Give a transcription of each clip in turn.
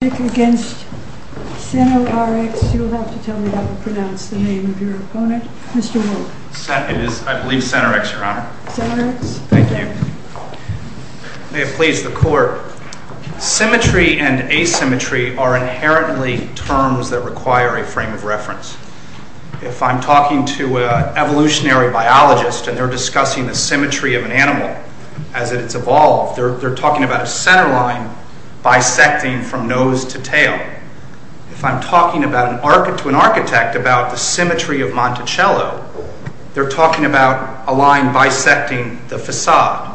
May it please the Court. Symmetry and asymmetry are inherently terms that require a frame of reference. If I'm talking to an evolutionary biologist and they're discussing the symmetry of an animal as it's evolved, they're talking about a center line bisecting from nose to tail. If I'm talking to an architect about the symmetry of Monticello, they're talking about a line bisecting the facade.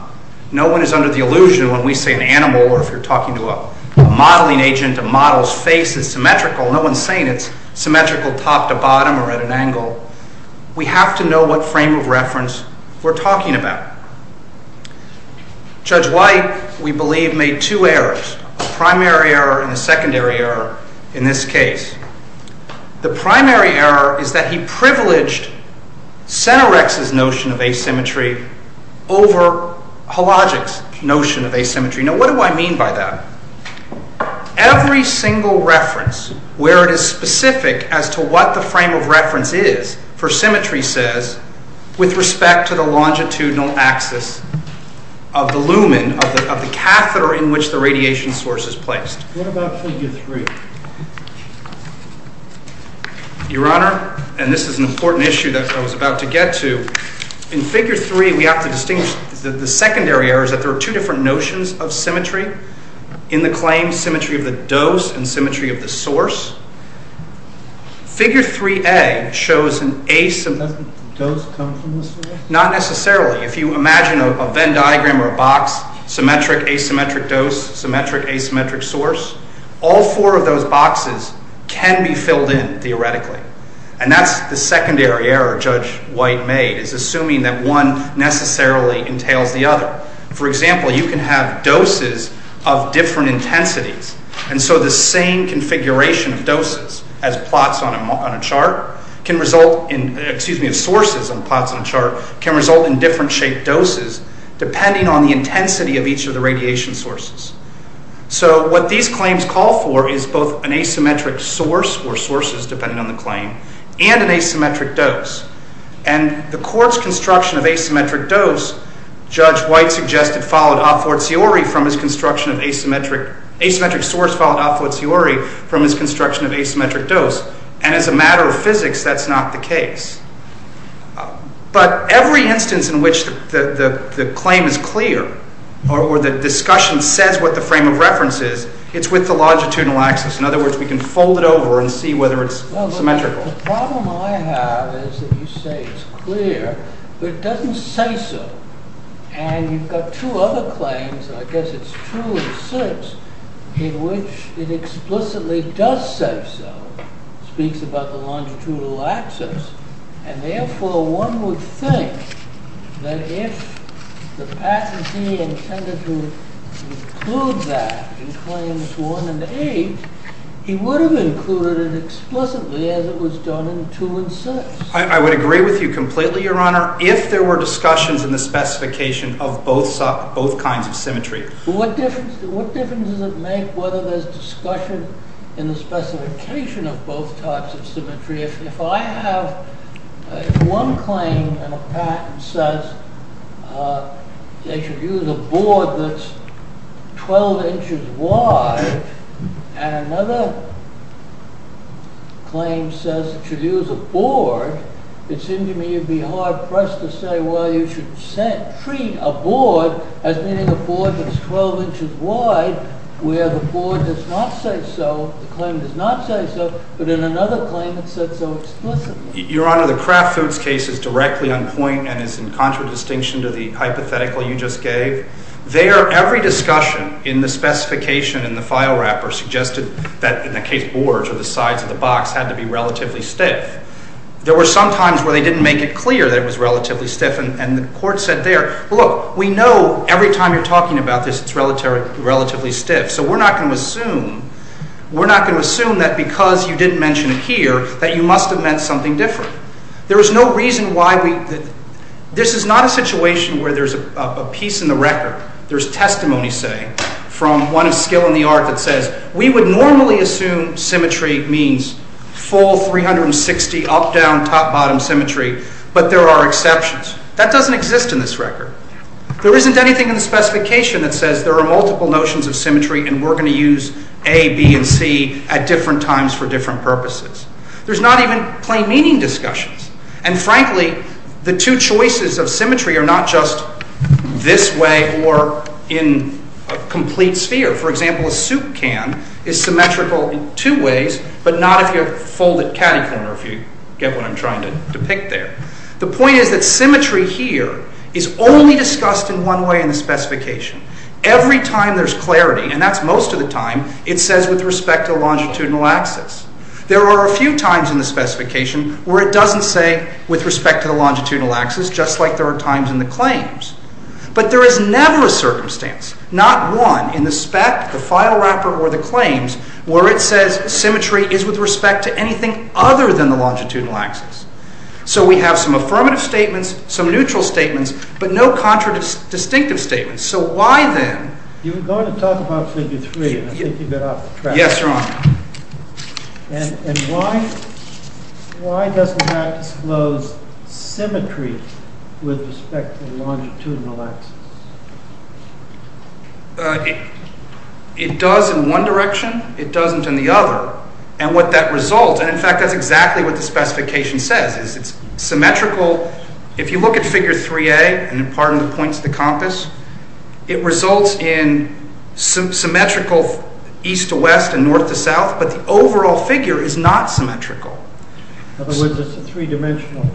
No one is under the illusion when we say an animal or if you're talking to a modeling agent, a model's face is symmetrical, no one's saying it's symmetrical top to bottom or at an angle. We have to know what frame of reference we're talking about. Judge White, we believe, made two errors, a primary error and a secondary error in this case. The primary error is that he privileged SENORX's notion of asymmetry over HOLOGIC's notion of asymmetry. Now what do I mean by that? Every single reference where it is specific as to what the frame of reference is for symmetry says, with respect to the longitudinal axis of the lumen, of the catheter in which the radiation source is placed. What about figure 3? Your Honor, and this is an important issue that I was about to get to, in figure 3 we have to distinguish, the secondary error is that there are two different notions of symmetry in the claim, symmetry of the dose and symmetry of the source. Figure 3A shows an asymmetric dose, not necessarily. If you imagine a Venn diagram or a box, symmetric, asymmetric dose, symmetric, asymmetric source, all four of those boxes can be filled in theoretically. And that's the secondary error Judge White made, is assuming that one necessarily entails the other. For example, you can have doses of different intensities and so the same configuration of doses, as plots on a chart, can result in, excuse me, sources and plots on a chart, can result in different shaped doses depending on the intensity of each of the radiation sources. So what these claims call for is both an asymmetric source, or sources depending on the claim, and an asymmetric dose. And the court's construction of asymmetric dose, Judge White suggested followed a fortiori from his construction of asymmetric, asymmetric source followed a fortiori from his construction of asymmetric dose, and as a matter of physics that's not the case. But every instance in which the claim is clear, or the discussion says what the frame of reference is, it's with the longitudinal axis. In other words, we can fold it over and see whether it's symmetrical. Well, the problem I have is that you say it's clear, but it doesn't say so. And you've got two other claims, I guess it's two and six, in which it explicitly does say so, speaks about the longitudinal axis, and therefore one would think that if the patentee intended to include that in claims one and eight, he would have included it explicitly as it was done in two and six. I would agree with you completely, Your Honor. If there were discussions in the specification of both kinds of symmetry. What difference does it make whether there's discussion in the specification of both types of symmetry? If I have one claim and a patent says they should use a board that's 12 inches wide, and another claim says it should use a board, it seems to me you'd be hard-pressed to say, well, you should treat a board as meaning a board that's 12 inches wide, where the board does not say so, the claim does not say so, but in another claim it's said so explicitly. Your Honor, the Kraft Foods case is directly on point and is in contradistinction to the hypothetical you just gave. There, every discussion in the specification in the file wrapper suggested that in the case of Borge or the sides of the box had to be relatively stiff. There were some times where they didn't make it clear that it was relatively stiff, and the court said there, look, we know every time you're talking about this it's relatively stiff, so we're not going to assume, we're not going to assume that because you didn't mention it here that you must have meant something different. There was no reason why we, this is not a situation where there's a piece in the record, there's testimony, say, from one of skill in the art that says, we would normally assume symmetry means full 360 up, down, top, bottom symmetry, but there are exceptions. That doesn't exist in this record. There isn't anything in the specification that says there are multiple notions of symmetry and we're going to use A, B, and C at different times for different purposes. There's not even plain meaning discussions, and frankly, the two choices of symmetry are not just this way or in a complete sphere. For example, a soup can is symmetrical in two ways, but not if you fold a catty corner if you get what I'm trying to depict there. The point is that symmetry here is only discussed in one way in the specification. Every time there's clarity, and that's most of the time, it says with respect to longitudinal axis. There are a few times in the specification where it doesn't say with respect to the longitudinal axis, just like there are times in the claims, but there is never a circumstance, not one in the spec, the file wrapper, or the claims where it says symmetry is with respect to anything other than the longitudinal axis. So we have some affirmative statements, some neutral statements, but no contradistinctive statements. So why then? You were going to talk about figure three, and I think you got off the track. Yes, Your Honor. And why doesn't that disclose symmetry with respect to the longitudinal axis? It does in one direction. It doesn't in the other. And what that results, and in fact, that's exactly what the specification says, is it's symmetrical. If you look at figure 3A, and pardon the points of the compass, it results in symmetrical east to west and north to south, but the overall figure is not symmetrical. In other words, it's a three-dimensional.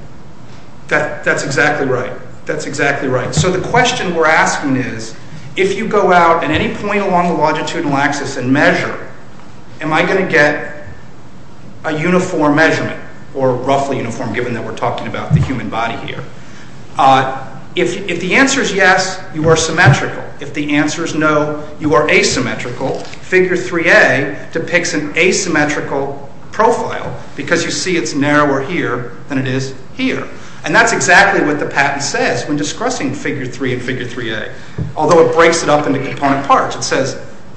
That's exactly right. That's exactly right. So the question we're asking is, if you go out at any point along the longitudinal axis and measure, am I going to get a uniform measurement, or roughly uniform, given that we're talking about the human body here? If the answer is yes, you are symmetrical. If the answer is no, you are asymmetrical. Figure 3A depicts an asymmetrical profile because you see it's narrower here than it is here. And that's exactly what the patent says when discussing figure 3 and figure 3A, although it breaks it up into component parts. It says,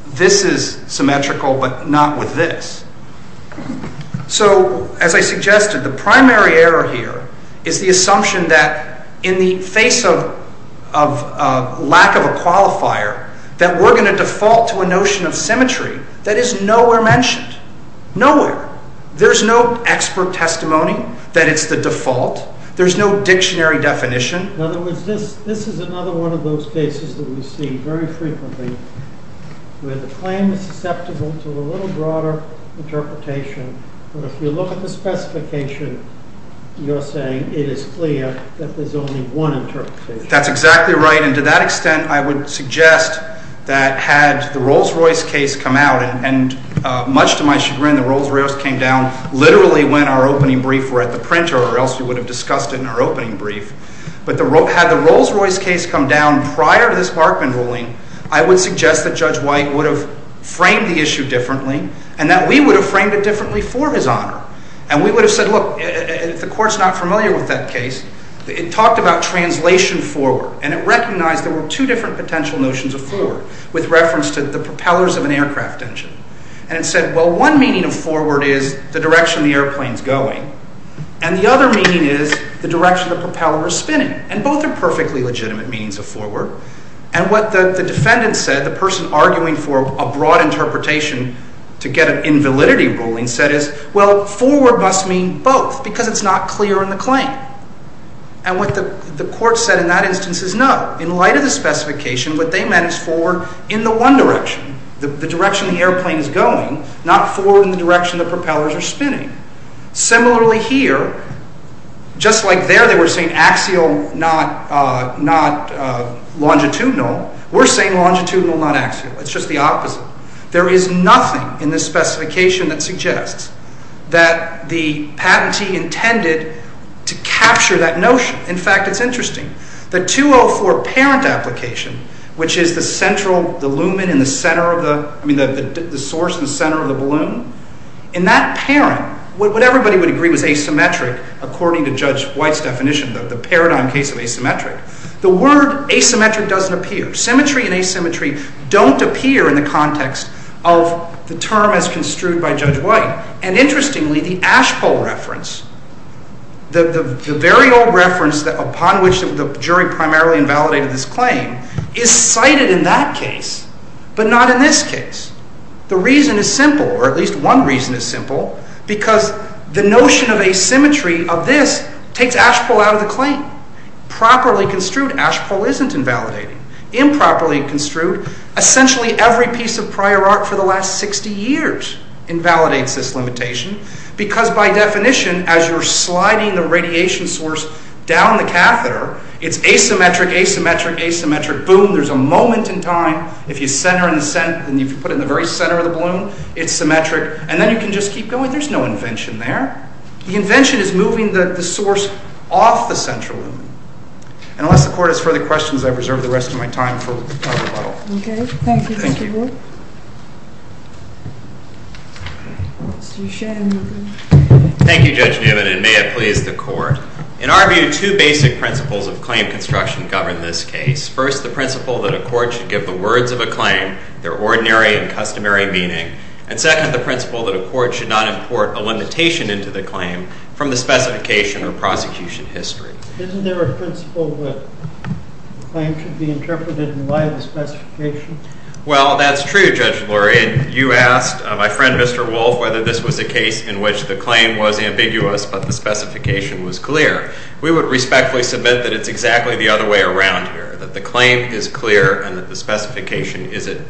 this is symmetrical, but not with this. So as I suggested, the primary error here is the assumption that in the face of lack of a qualifier, that we're going to default to a notion of symmetry that is nowhere mentioned. Nowhere. There's no expert testimony that it's the default. There's no dictionary definition. In other words, this is another one of those cases that we see very frequently, where the claim is susceptible to a little broader interpretation. But if you look at the specification, you're saying it is clear that there's only one interpretation. That's exactly right. And to that extent, I would suggest that had the Rolls-Royce case come out, and much to my chagrin, the Rolls-Royce came down literally when our opening brief were at the printer, or else we would have discussed it in our opening brief. But had the Rolls-Royce case come down prior to this Barkman ruling, I would suggest that Judge White would have framed the issue differently, and that we would have framed it differently for his honor. And we would have said, look, if the court's not familiar with that case, it talked about translation forward. And it recognized there were two different potential notions of forward, with reference to the propellers of an aircraft engine. And it said, well, one meaning of forward is the direction the airplane's going, and the other meaning is the direction the propeller is spinning. And both are perfectly legitimate meanings of forward. And what the defendant said, the person arguing for a broad interpretation to get an invalidity ruling, said is, well, forward must mean both, because it's not clear in the claim. And what the court said in that instance is no. In light of the specification, what they meant is forward in the one direction, the direction the airplane is going, not forward in the direction the propellers are spinning. Similarly here, just like there they were saying axial, not longitudinal, we're saying longitudinal, not axial. It's just the opposite. There is nothing in this specification that suggests that the patentee intended to capture that notion. In fact, it's interesting. The 204 parent application, which is the source in the center of the balloon. In that parent, what everybody would agree was asymmetric, according to Judge White's definition, the paradigm case of asymmetric. The word asymmetric doesn't appear. Symmetry and asymmetry don't appear in the context of the term as construed by Judge White. And interestingly, the Ashpole reference, the very old reference upon which the jury primarily invalidated this claim, is cited in that case, but not in this case. The reason is simple, or at least one reason is simple, because the notion of asymmetry of this takes Ashpole out of the claim. Properly construed, Ashpole isn't invalidating. Improperly construed, essentially every piece of prior art for the last 60 years invalidates this limitation, because by definition, as you're sliding the radiation source down the catheter, it's asymmetric, asymmetric, asymmetric. Boom, there's a moment in time. If you put it in the very center of the balloon, it's symmetric. And then you can just keep going. There's no invention there. The invention is moving the source off the central loom. And unless the court has further questions, I reserve the rest of my time for rebuttal. OK. Thank you, Mr. Wood. Mr. Shanmugam. Thank you, Judge Newman, and may it please the court. In our view, two basic principles of claim construction govern this case. First, the principle that a court should give the words of a claim their ordinary and customary meaning. And second, the principle that a court should not import a limitation into the claim from the specification or prosecution history. Isn't there a principle that a claim should be interpreted in light of the specification? Well, that's true, Judge Lurie. And you asked my friend, Mr. Wolf, whether this was a case in which the claim was ambiguous, but the specification was clear. We would respectfully submit that it's exactly the other way around here, that the claim is clear and that the specification is at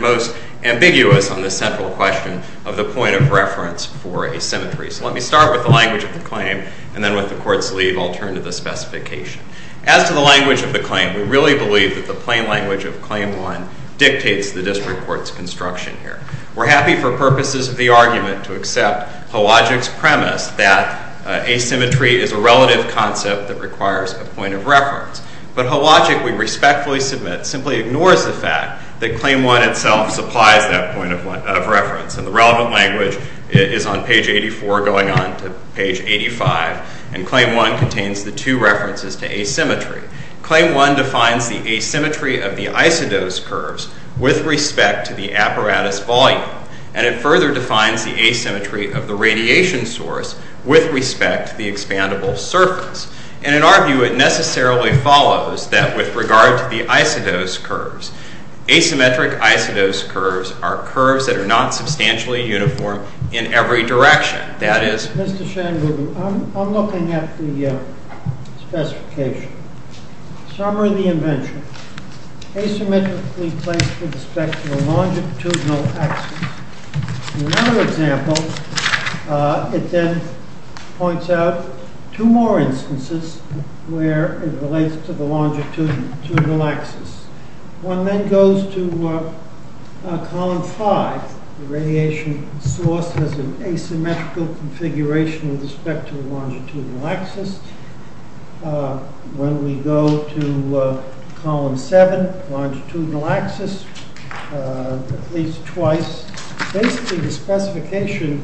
most ambiguous on the central question of the point of reference for asymmetry. So let me start with the language of the claim. And then with the court's leave, I'll turn to the specification. As to the language of the claim, we really believe that the plain language of Claim 1 dictates the district court's construction here. We're happy for purposes of the argument to accept Halogic's premise that asymmetry is a relative concept that requires a point of reference. But Halogic, we respectfully submit, simply ignores the fact that Claim 1 itself supplies that point of reference. And the relevant language is on page 84 going on to page 85. And Claim 1 contains the two references to asymmetry. Claim 1 defines the asymmetry of the isodose curves with respect to the apparatus volume. And it further defines the asymmetry of the radiation source with respect to the expandable surface. And in our view, it necessarily follows that with regard to the isodose curves, asymmetric isodose curves are curves that are not substantially uniform in every direction. That is- Mr. Shanmugam, I'm looking at the specification. Summary of the invention. Asymmetrically placed with respect to a longitudinal axis. In another example, it then points out two more instances where it relates to the longitudinal axis. One then goes to Column 5, the radiation source has an asymmetrical configuration with respect to the longitudinal axis. When we go to Column 7, longitudinal axis, at least twice, basically the specification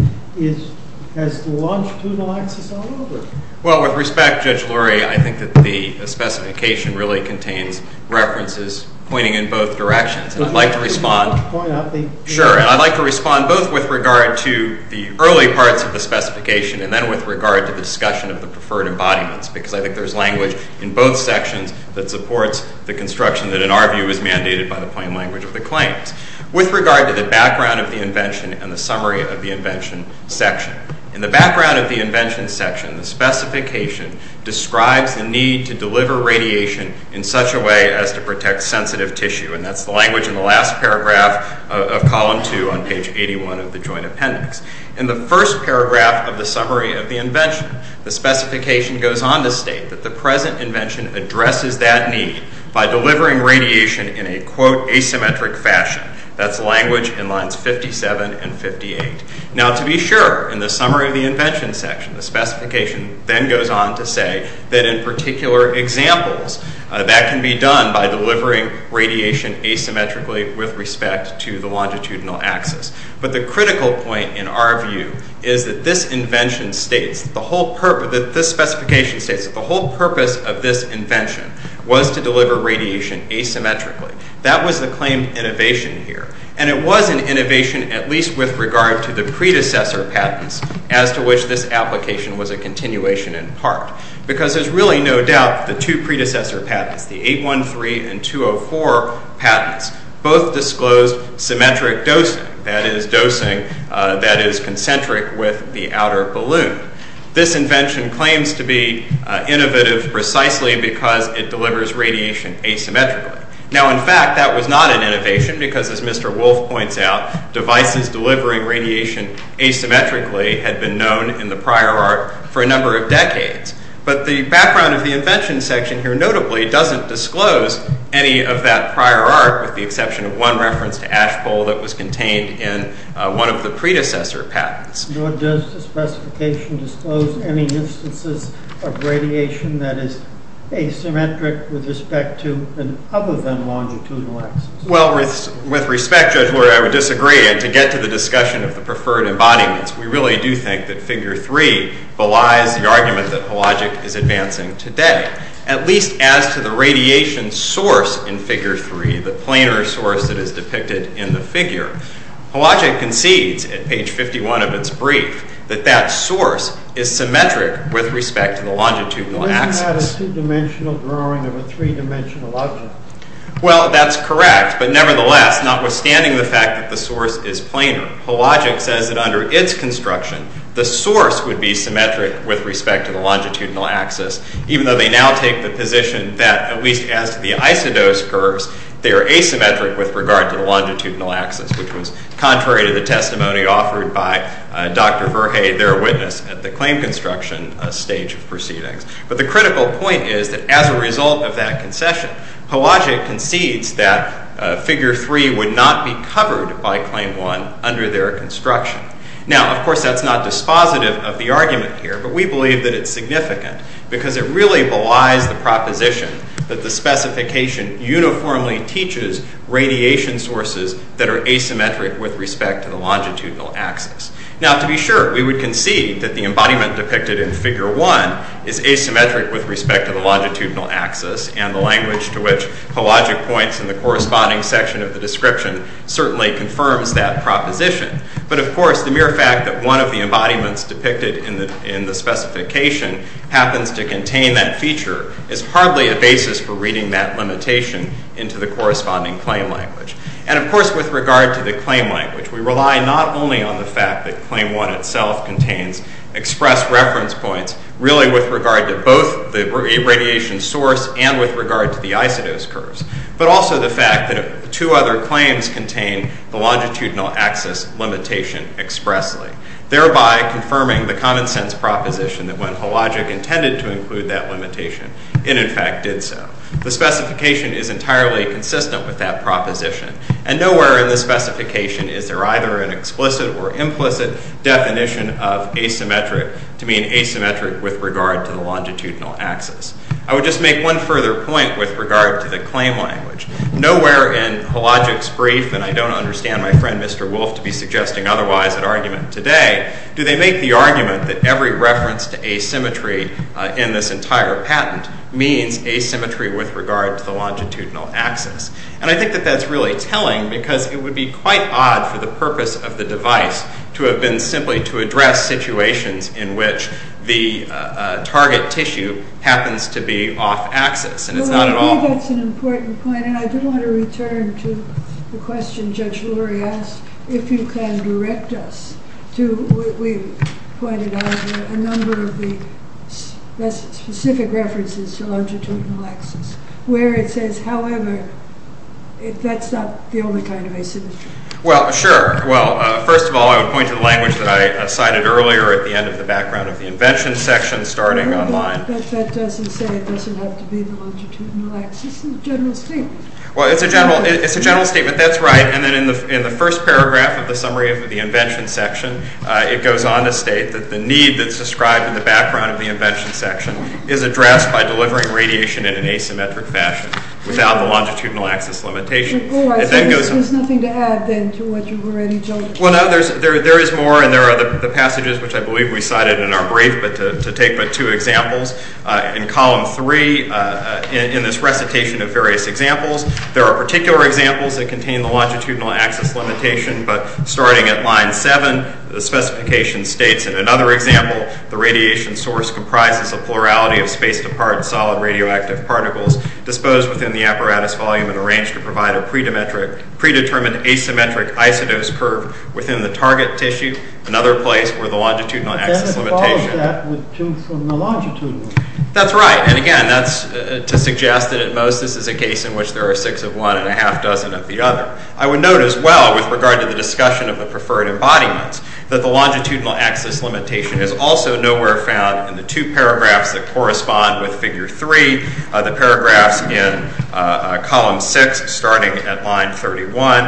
has the longitudinal axis all over it. Well, with respect, Judge Lurie, I think that the specification really contains references pointing in both directions. I'd like to respond- Could you point out the- Sure. And I'd like to respond both with regard to the early parts of the specification and then with regard to the discussion of the preferred embodiments, because I think there's language in both sections that supports the construction that, in our view, is mandated by the plain language of the claims. With regard to the background of the invention and the summary of the invention section. In the background of the invention section, the specification describes the need to deliver radiation in such a way as to protect sensitive tissue, and that's the language in the last paragraph of Column 2 on page 81 of the Joint Appendix. In the first paragraph of the summary of the invention, the specification goes on to state that the present invention addresses that need by delivering radiation in a, quote, asymmetric fashion. That's language in lines 57 and 58. Now, to be sure, in the summary of the invention section, the specification then goes on to that in particular examples, that can be done by delivering radiation asymmetrically with respect to the longitudinal axis. But the critical point, in our view, is that this invention states that the whole purpose of this invention was to deliver radiation asymmetrically. That was the claimed innovation here. And it was an innovation at least with regard to the predecessor patents as to which this application was a continuation in part. Because there's really no doubt the two predecessor patents, the 813 and 204 patents, both disclosed symmetric dosing, that is, dosing that is concentric with the outer balloon. This invention claims to be innovative precisely because it delivers radiation asymmetrically. Now, in fact, that was not an innovation because, as Mr. Wolf points out, devices delivering radiation asymmetrically had been known in the prior art for a number of decades. But the background of the invention section here notably doesn't disclose any of that prior art with the exception of one reference to ash bowl that was contained in one of the predecessor patents. Or does the specification disclose any instances of radiation that is asymmetric with respect to an other than longitudinal axis? Well, with respect, Judge Lurie, I would disagree. And to get to the discussion of the preferred embodiments, we really do think that figure three belies the argument that Hologic is advancing today, at least as to the radiation source in figure three, the planar source that is depicted in the figure. Hologic concedes at page 51 of its brief that that source is symmetric with respect to the longitudinal axis. Isn't that a two-dimensional drawing of a three-dimensional object? Well, that's correct. But nevertheless, notwithstanding the fact that the source is planar, Hologic says that under its construction, the source would be symmetric with respect to the longitudinal axis, even though they now take the position that, at least as to the isodose curves, they are asymmetric with regard to the longitudinal axis, which was contrary to the testimony offered by Dr. Verhey, their witness at the claim construction stage of proceedings. But the critical point is that as a result of that concession, Hologic concedes that figure three would not be covered by claim one under their construction. Now, of course, that's not dispositive of the argument here, but we believe that it's significant because it really belies the proposition that the specification uniformly teaches radiation sources that are asymmetric with respect to the longitudinal axis. Now, to be sure, we would concede that the embodiment depicted in figure one is asymmetric with respect to the longitudinal axis and the language to which Hologic points in the corresponding section of the description certainly confirms that proposition. But of course, the mere fact that one of the embodiments depicted in the specification happens to contain that feature is hardly a basis for reading that limitation into the corresponding claim language. And of course, with regard to the claim language, we rely not only on the fact that claim one itself contains express reference points, really with regard to both the radiation source and with regard to the isodose curves, but also the fact that two other claims contain the longitudinal axis limitation expressly, thereby confirming the common sense proposition that when Hologic intended to include that limitation, it in fact did so. The specification is entirely consistent with that proposition. And nowhere in the specification is there either an explicit or implicit definition of asymmetric to mean asymmetric with regard to the longitudinal axis. I would just make one further point with regard to the claim language. Nowhere in Hologic's brief, and I don't understand my friend Mr. Wolf to be suggesting otherwise at argument today, do they make the argument that every reference to asymmetry in this entire patent means asymmetry with regard to the longitudinal axis. And I think that that's really telling because it would be quite odd for the purpose of the device to have been simply to address situations in which the target tissue happens to be off And it's not at all. I think that's an important point. And I do want to return to the question Judge Lori asked, if you can direct us to, we've got specific references to longitudinal axis where it says, however, that's not the only kind of asymmetry. Well, sure. Well, first of all, I would point to the language that I cited earlier at the end of the background of the invention section starting online. But that doesn't say it doesn't have to be the longitudinal axis in the general statement. Well, it's a general statement. That's right. And then in the first paragraph of the summary of the invention section, it goes on to state that the need that's described in the background of the invention section is addressed by delivering radiation in an asymmetric fashion without the longitudinal axis limitation. Oh, I thought there was nothing to add then to what you've already told us. Well, no, there is more. And there are the passages, which I believe we cited in our brief, but to take two examples in column three, in this recitation of various examples, there are particular examples that contain the longitudinal axis limitation. But starting at line seven, the specification states, in another example, the radiation source comprises a plurality of space-to-part solid radioactive particles disposed within the apparatus volume and arranged to provide a predetermined asymmetric isodose curve within the target tissue, another place where the longitudinal axis limitation. Then it follows that with two from the longitudinal. That's right. And again, that's to suggest that at most this is a case in which there are six of one and a half dozen of the other. I would note as well, with regard to the discussion of the preferred embodiments, that the longitudinal axis limitation is also nowhere found in the two paragraphs that correspond with figure three, the paragraphs in column six, starting at line 31,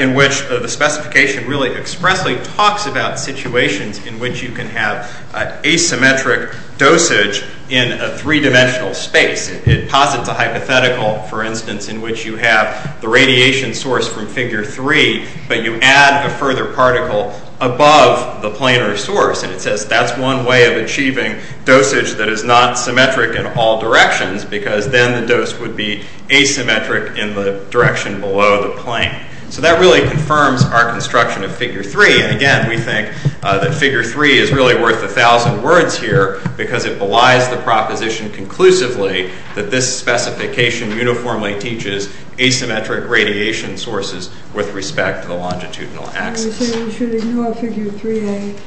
in which the specification really expressly talks about situations in which you can have asymmetric dosage in a three-dimensional space. It posits a hypothetical, for instance, in which you have the radiation source from figure three, but you add a further particle above the planar source. And it says that's one way of achieving dosage that is not symmetric in all directions, because then the dose would be asymmetric in the direction below the plane. So that really confirms our construction of figure three. And again, we think that figure three is really worth a thousand words here, because it belies the proposition conclusively that this specification uniformly teaches asymmetric radiation sources with respect to the longitudinal axis. So we should ignore figure 3a?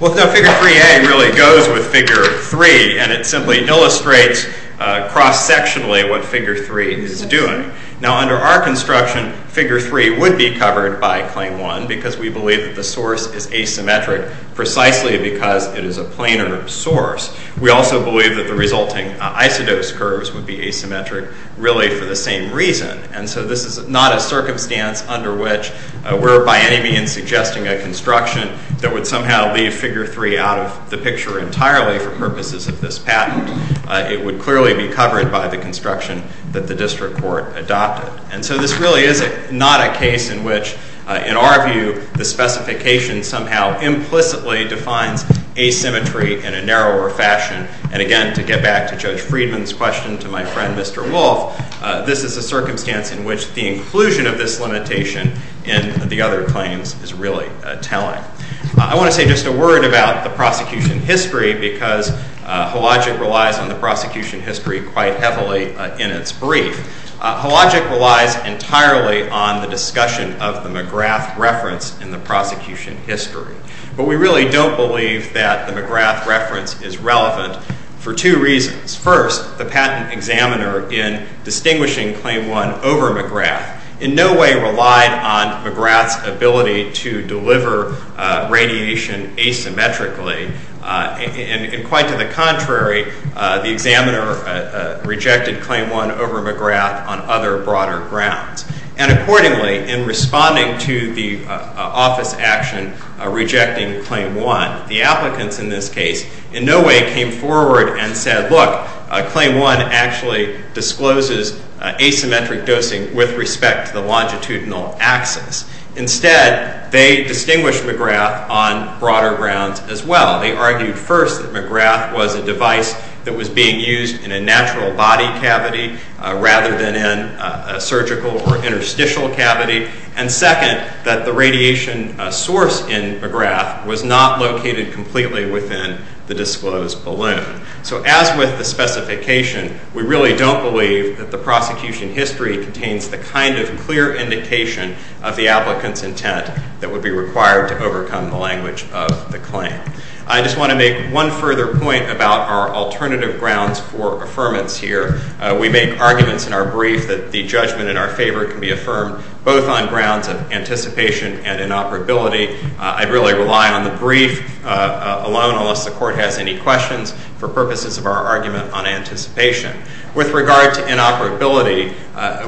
Well, figure 3a really goes with figure three, and it simply illustrates cross-sectionally what figure three is doing. Now, under our construction, figure three would be covered by claim one, because we believe that the source is asymmetric precisely because it is a planar source. We also believe that the resulting isodose curves would be asymmetric really for the same reason. And so this is not a circumstance under which we're by any means suggesting a construction that would somehow leave figure three out of the picture entirely for purposes of this patent. It would clearly be covered by the construction that the district court adopted. And so this really is not a case in which, in our view, the specification somehow implicitly in a narrower fashion. And again, to get back to Judge Friedman's question to my friend, Mr. Wolfe, this is a circumstance in which the inclusion of this limitation in the other claims is really telling. I want to say just a word about the prosecution history, because Hologic relies on the prosecution history quite heavily in its brief. Hologic relies entirely on the discussion of the McGrath reference in the prosecution history. But we really don't believe that the McGrath reference is relevant for two reasons. First, the patent examiner, in distinguishing Claim 1 over McGrath, in no way relied on McGrath's ability to deliver radiation asymmetrically, and quite to the contrary, the examiner rejected Claim 1 over McGrath on other broader grounds. And accordingly, in responding to the office action rejecting Claim 1, the applicants in this case in no way came forward and said, look, Claim 1 actually discloses asymmetric dosing with respect to the longitudinal axis. Instead, they distinguished McGrath on broader grounds as well. They argued first that McGrath was a device that was being used in a natural body cavity rather than in a surgical or interstitial cavity, and second, that the radiation source in McGrath was not located completely within the disclosed balloon. So as with the specification, we really don't believe that the prosecution history contains the kind of clear indication of the applicant's intent that would be required to overcome the language of the claim. I just want to make one further point about our alternative grounds for affirmance here. We make arguments in our brief that the judgment in our favor can be affirmed both on grounds of anticipation and inoperability. I'd really rely on the brief alone, unless the court has any questions, for purposes of our argument on anticipation. With regard to inoperability,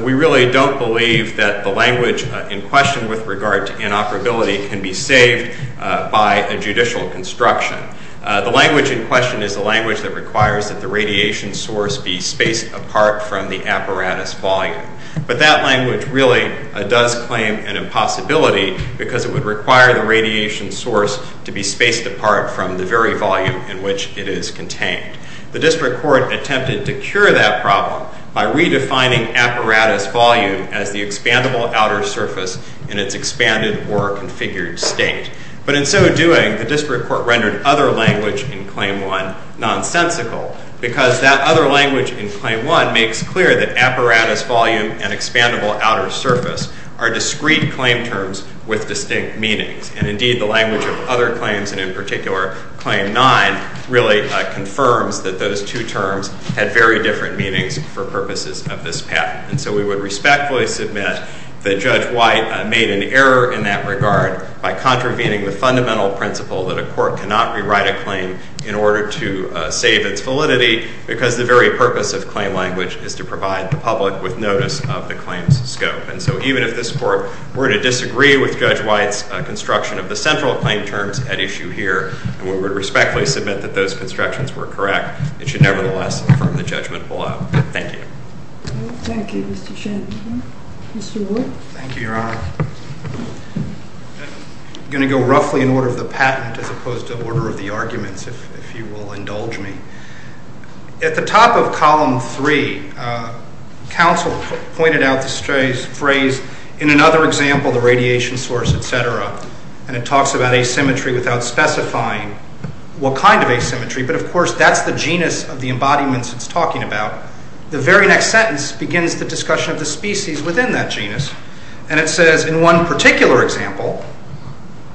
we really don't believe that the language in question with regard to inoperability can be saved by a judicial construction. The language in question is the language that requires that the radiation source be spaced apart from the apparatus volume, but that language really does claim an impossibility because it would require the radiation source to be spaced apart from the very volume in which it is contained. The district court attempted to cure that problem by redefining apparatus volume as the expandable outer surface in its expanded or configured state, but in so doing, the other language in Claim 1, nonsensical, because that other language in Claim 1 makes clear that apparatus volume and expandable outer surface are discrete claim terms with distinct meanings, and indeed the language of other claims, and in particular Claim 9, really confirms that those two terms had very different meanings for purposes of this patent. And so we would respectfully submit that Judge White made an error in that regard by contravening the fundamental principle that a court cannot rewrite a claim in order to save its validity because the very purpose of claim language is to provide the public with notice of the claim's scope. And so even if this Court were to disagree with Judge White's construction of the central claim terms at issue here, and we would respectfully submit that those constructions were correct, it should nevertheless confirm the judgment below. Thank you. Thank you, Mr. Shanmugam. Mr. Ward? Thank you, Your Honor. I'm going to go roughly in order of the patent as opposed to order of the arguments, if you will indulge me. At the top of Column 3, counsel pointed out the phrase, in another example, the radiation source, et cetera, and it talks about asymmetry without specifying what kind of asymmetry, but of course that's the genus of the embodiments it's talking about. The very next sentence begins the discussion of the species within that genus, and it says, in one particular example,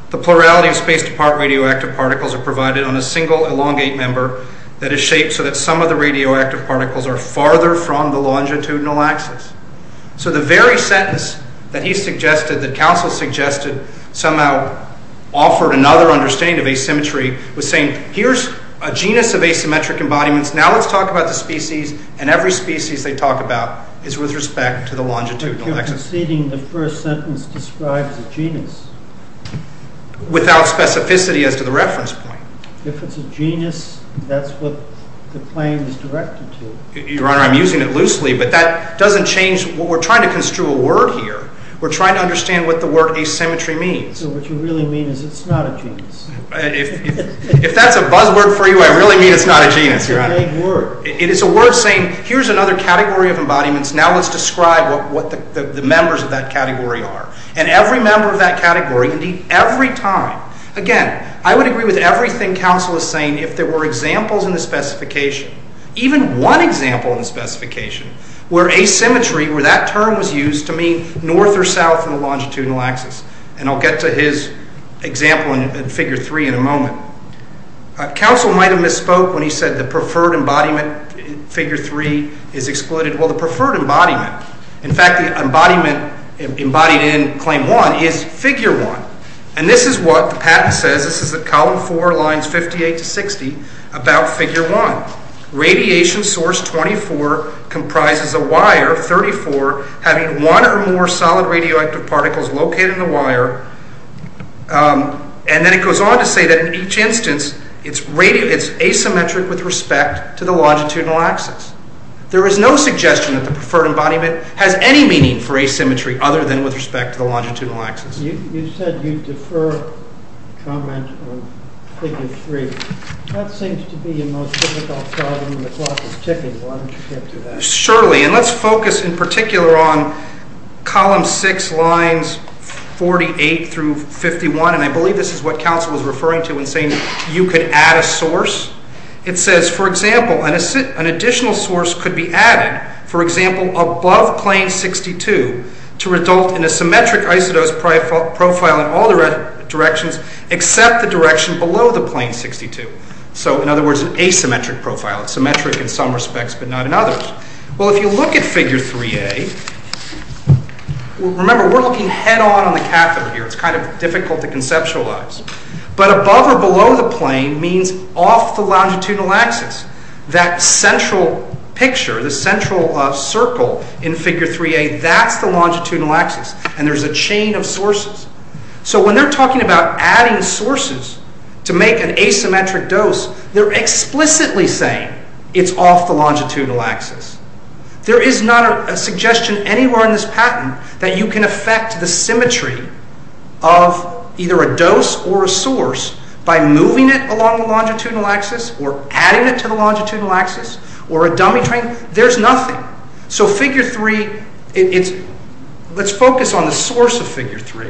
the plurality of space-to-part radioactive particles are provided on a single elongate member that is shaped so that some of the radioactive particles are farther from the longitudinal axis. So the very sentence that he suggested, that counsel suggested, somehow offered another understanding of asymmetry was saying, here's a genus of asymmetric embodiments, now let's talk about the species, and every species they talk about is with respect to the longitudinal axis. If you're proceeding, the first sentence describes a genus. Without specificity as to the reference point. If it's a genus, that's what the claim is directed to. Your Honor, I'm using it loosely, but that doesn't change what we're trying to construe a word here. We're trying to understand what the word asymmetry means. So what you really mean is it's not a genus. If that's a buzzword for you, I really mean it's not a genus, Your Honor. It's a vague word. It is a word saying, here's another category of embodiments, now let's describe what the members of that category are. And every member of that category, indeed every time, again, I would agree with everything counsel is saying if there were examples in the specification, even one example in the specification, where asymmetry, where that term was used to mean north or south in the longitudinal axis. And I'll get to his example in figure three in a moment. Counsel might have misspoke when he said the preferred embodiment, figure three, is excluded. Well, the preferred embodiment, in fact, the embodiment embodied in claim one is figure one. And this is what the patent says. This is at column four, lines 58 to 60, about figure one. Radiation source 24 comprises a wire of 34 having one or more solid radioactive particles located in the wire. And then it goes on to say that in each instance, it's asymmetric with respect to the longitudinal axis. There is no suggestion that the preferred embodiment has any meaning for asymmetry other than with respect to the longitudinal axis. You said you defer comment on figure three. That seems to be the most difficult problem and the clock is ticking. Why don't you get to that? Surely. And let's focus in particular on column six, lines 48 through 51. And I believe this is what counsel was referring to when saying you could add a source. It says, for example, an additional source could be added, for example, above plane 62 to result in a symmetric isodose profile in all directions except the direction below the plane 62. So in other words, an asymmetric profile, symmetric in some respects, but not in others. Well, if you look at figure 3A, remember, we're looking head on on the catheter here. It's kind of difficult to conceptualize. But above or below the plane means off the longitudinal axis. That central picture, the central circle in figure 3A, that's the longitudinal axis. And there's a chain of sources. So when they're talking about adding sources to make an asymmetric dose, they're explicitly saying it's off the longitudinal axis. There is not a suggestion anywhere in this patent that you can affect the symmetry of either a dose or a source by moving it along the longitudinal axis or adding it to the longitudinal axis or a dummy train. There's nothing. So figure 3, let's focus on the source of figure 3.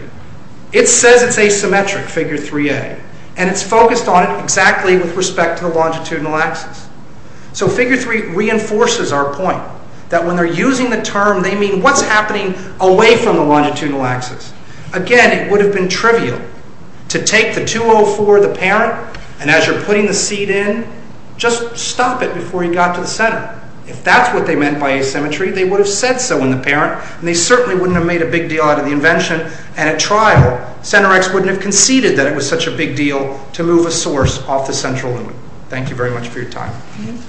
It says it's asymmetric, figure 3A. And it's focused on it exactly with respect to the longitudinal axis. So figure 3 reinforces our point that when they're using the term, they mean what's happening away from the longitudinal axis. Again, it would have been trivial to take the 204, the parent, and as you're putting the seed in, just stop it before you got to the center. If that's what they meant by asymmetry, they would have said so in the parent, and they certainly wouldn't have made a big deal out of the invention. And at trial, CENTER-X wouldn't have conceded that it was such a big deal to move a source off the central limit. Thank you very much for your time.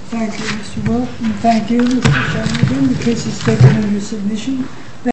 Thank you, Mr. Wilk, and thank you, Mr. Sheldon, again, because it's taken on your submission.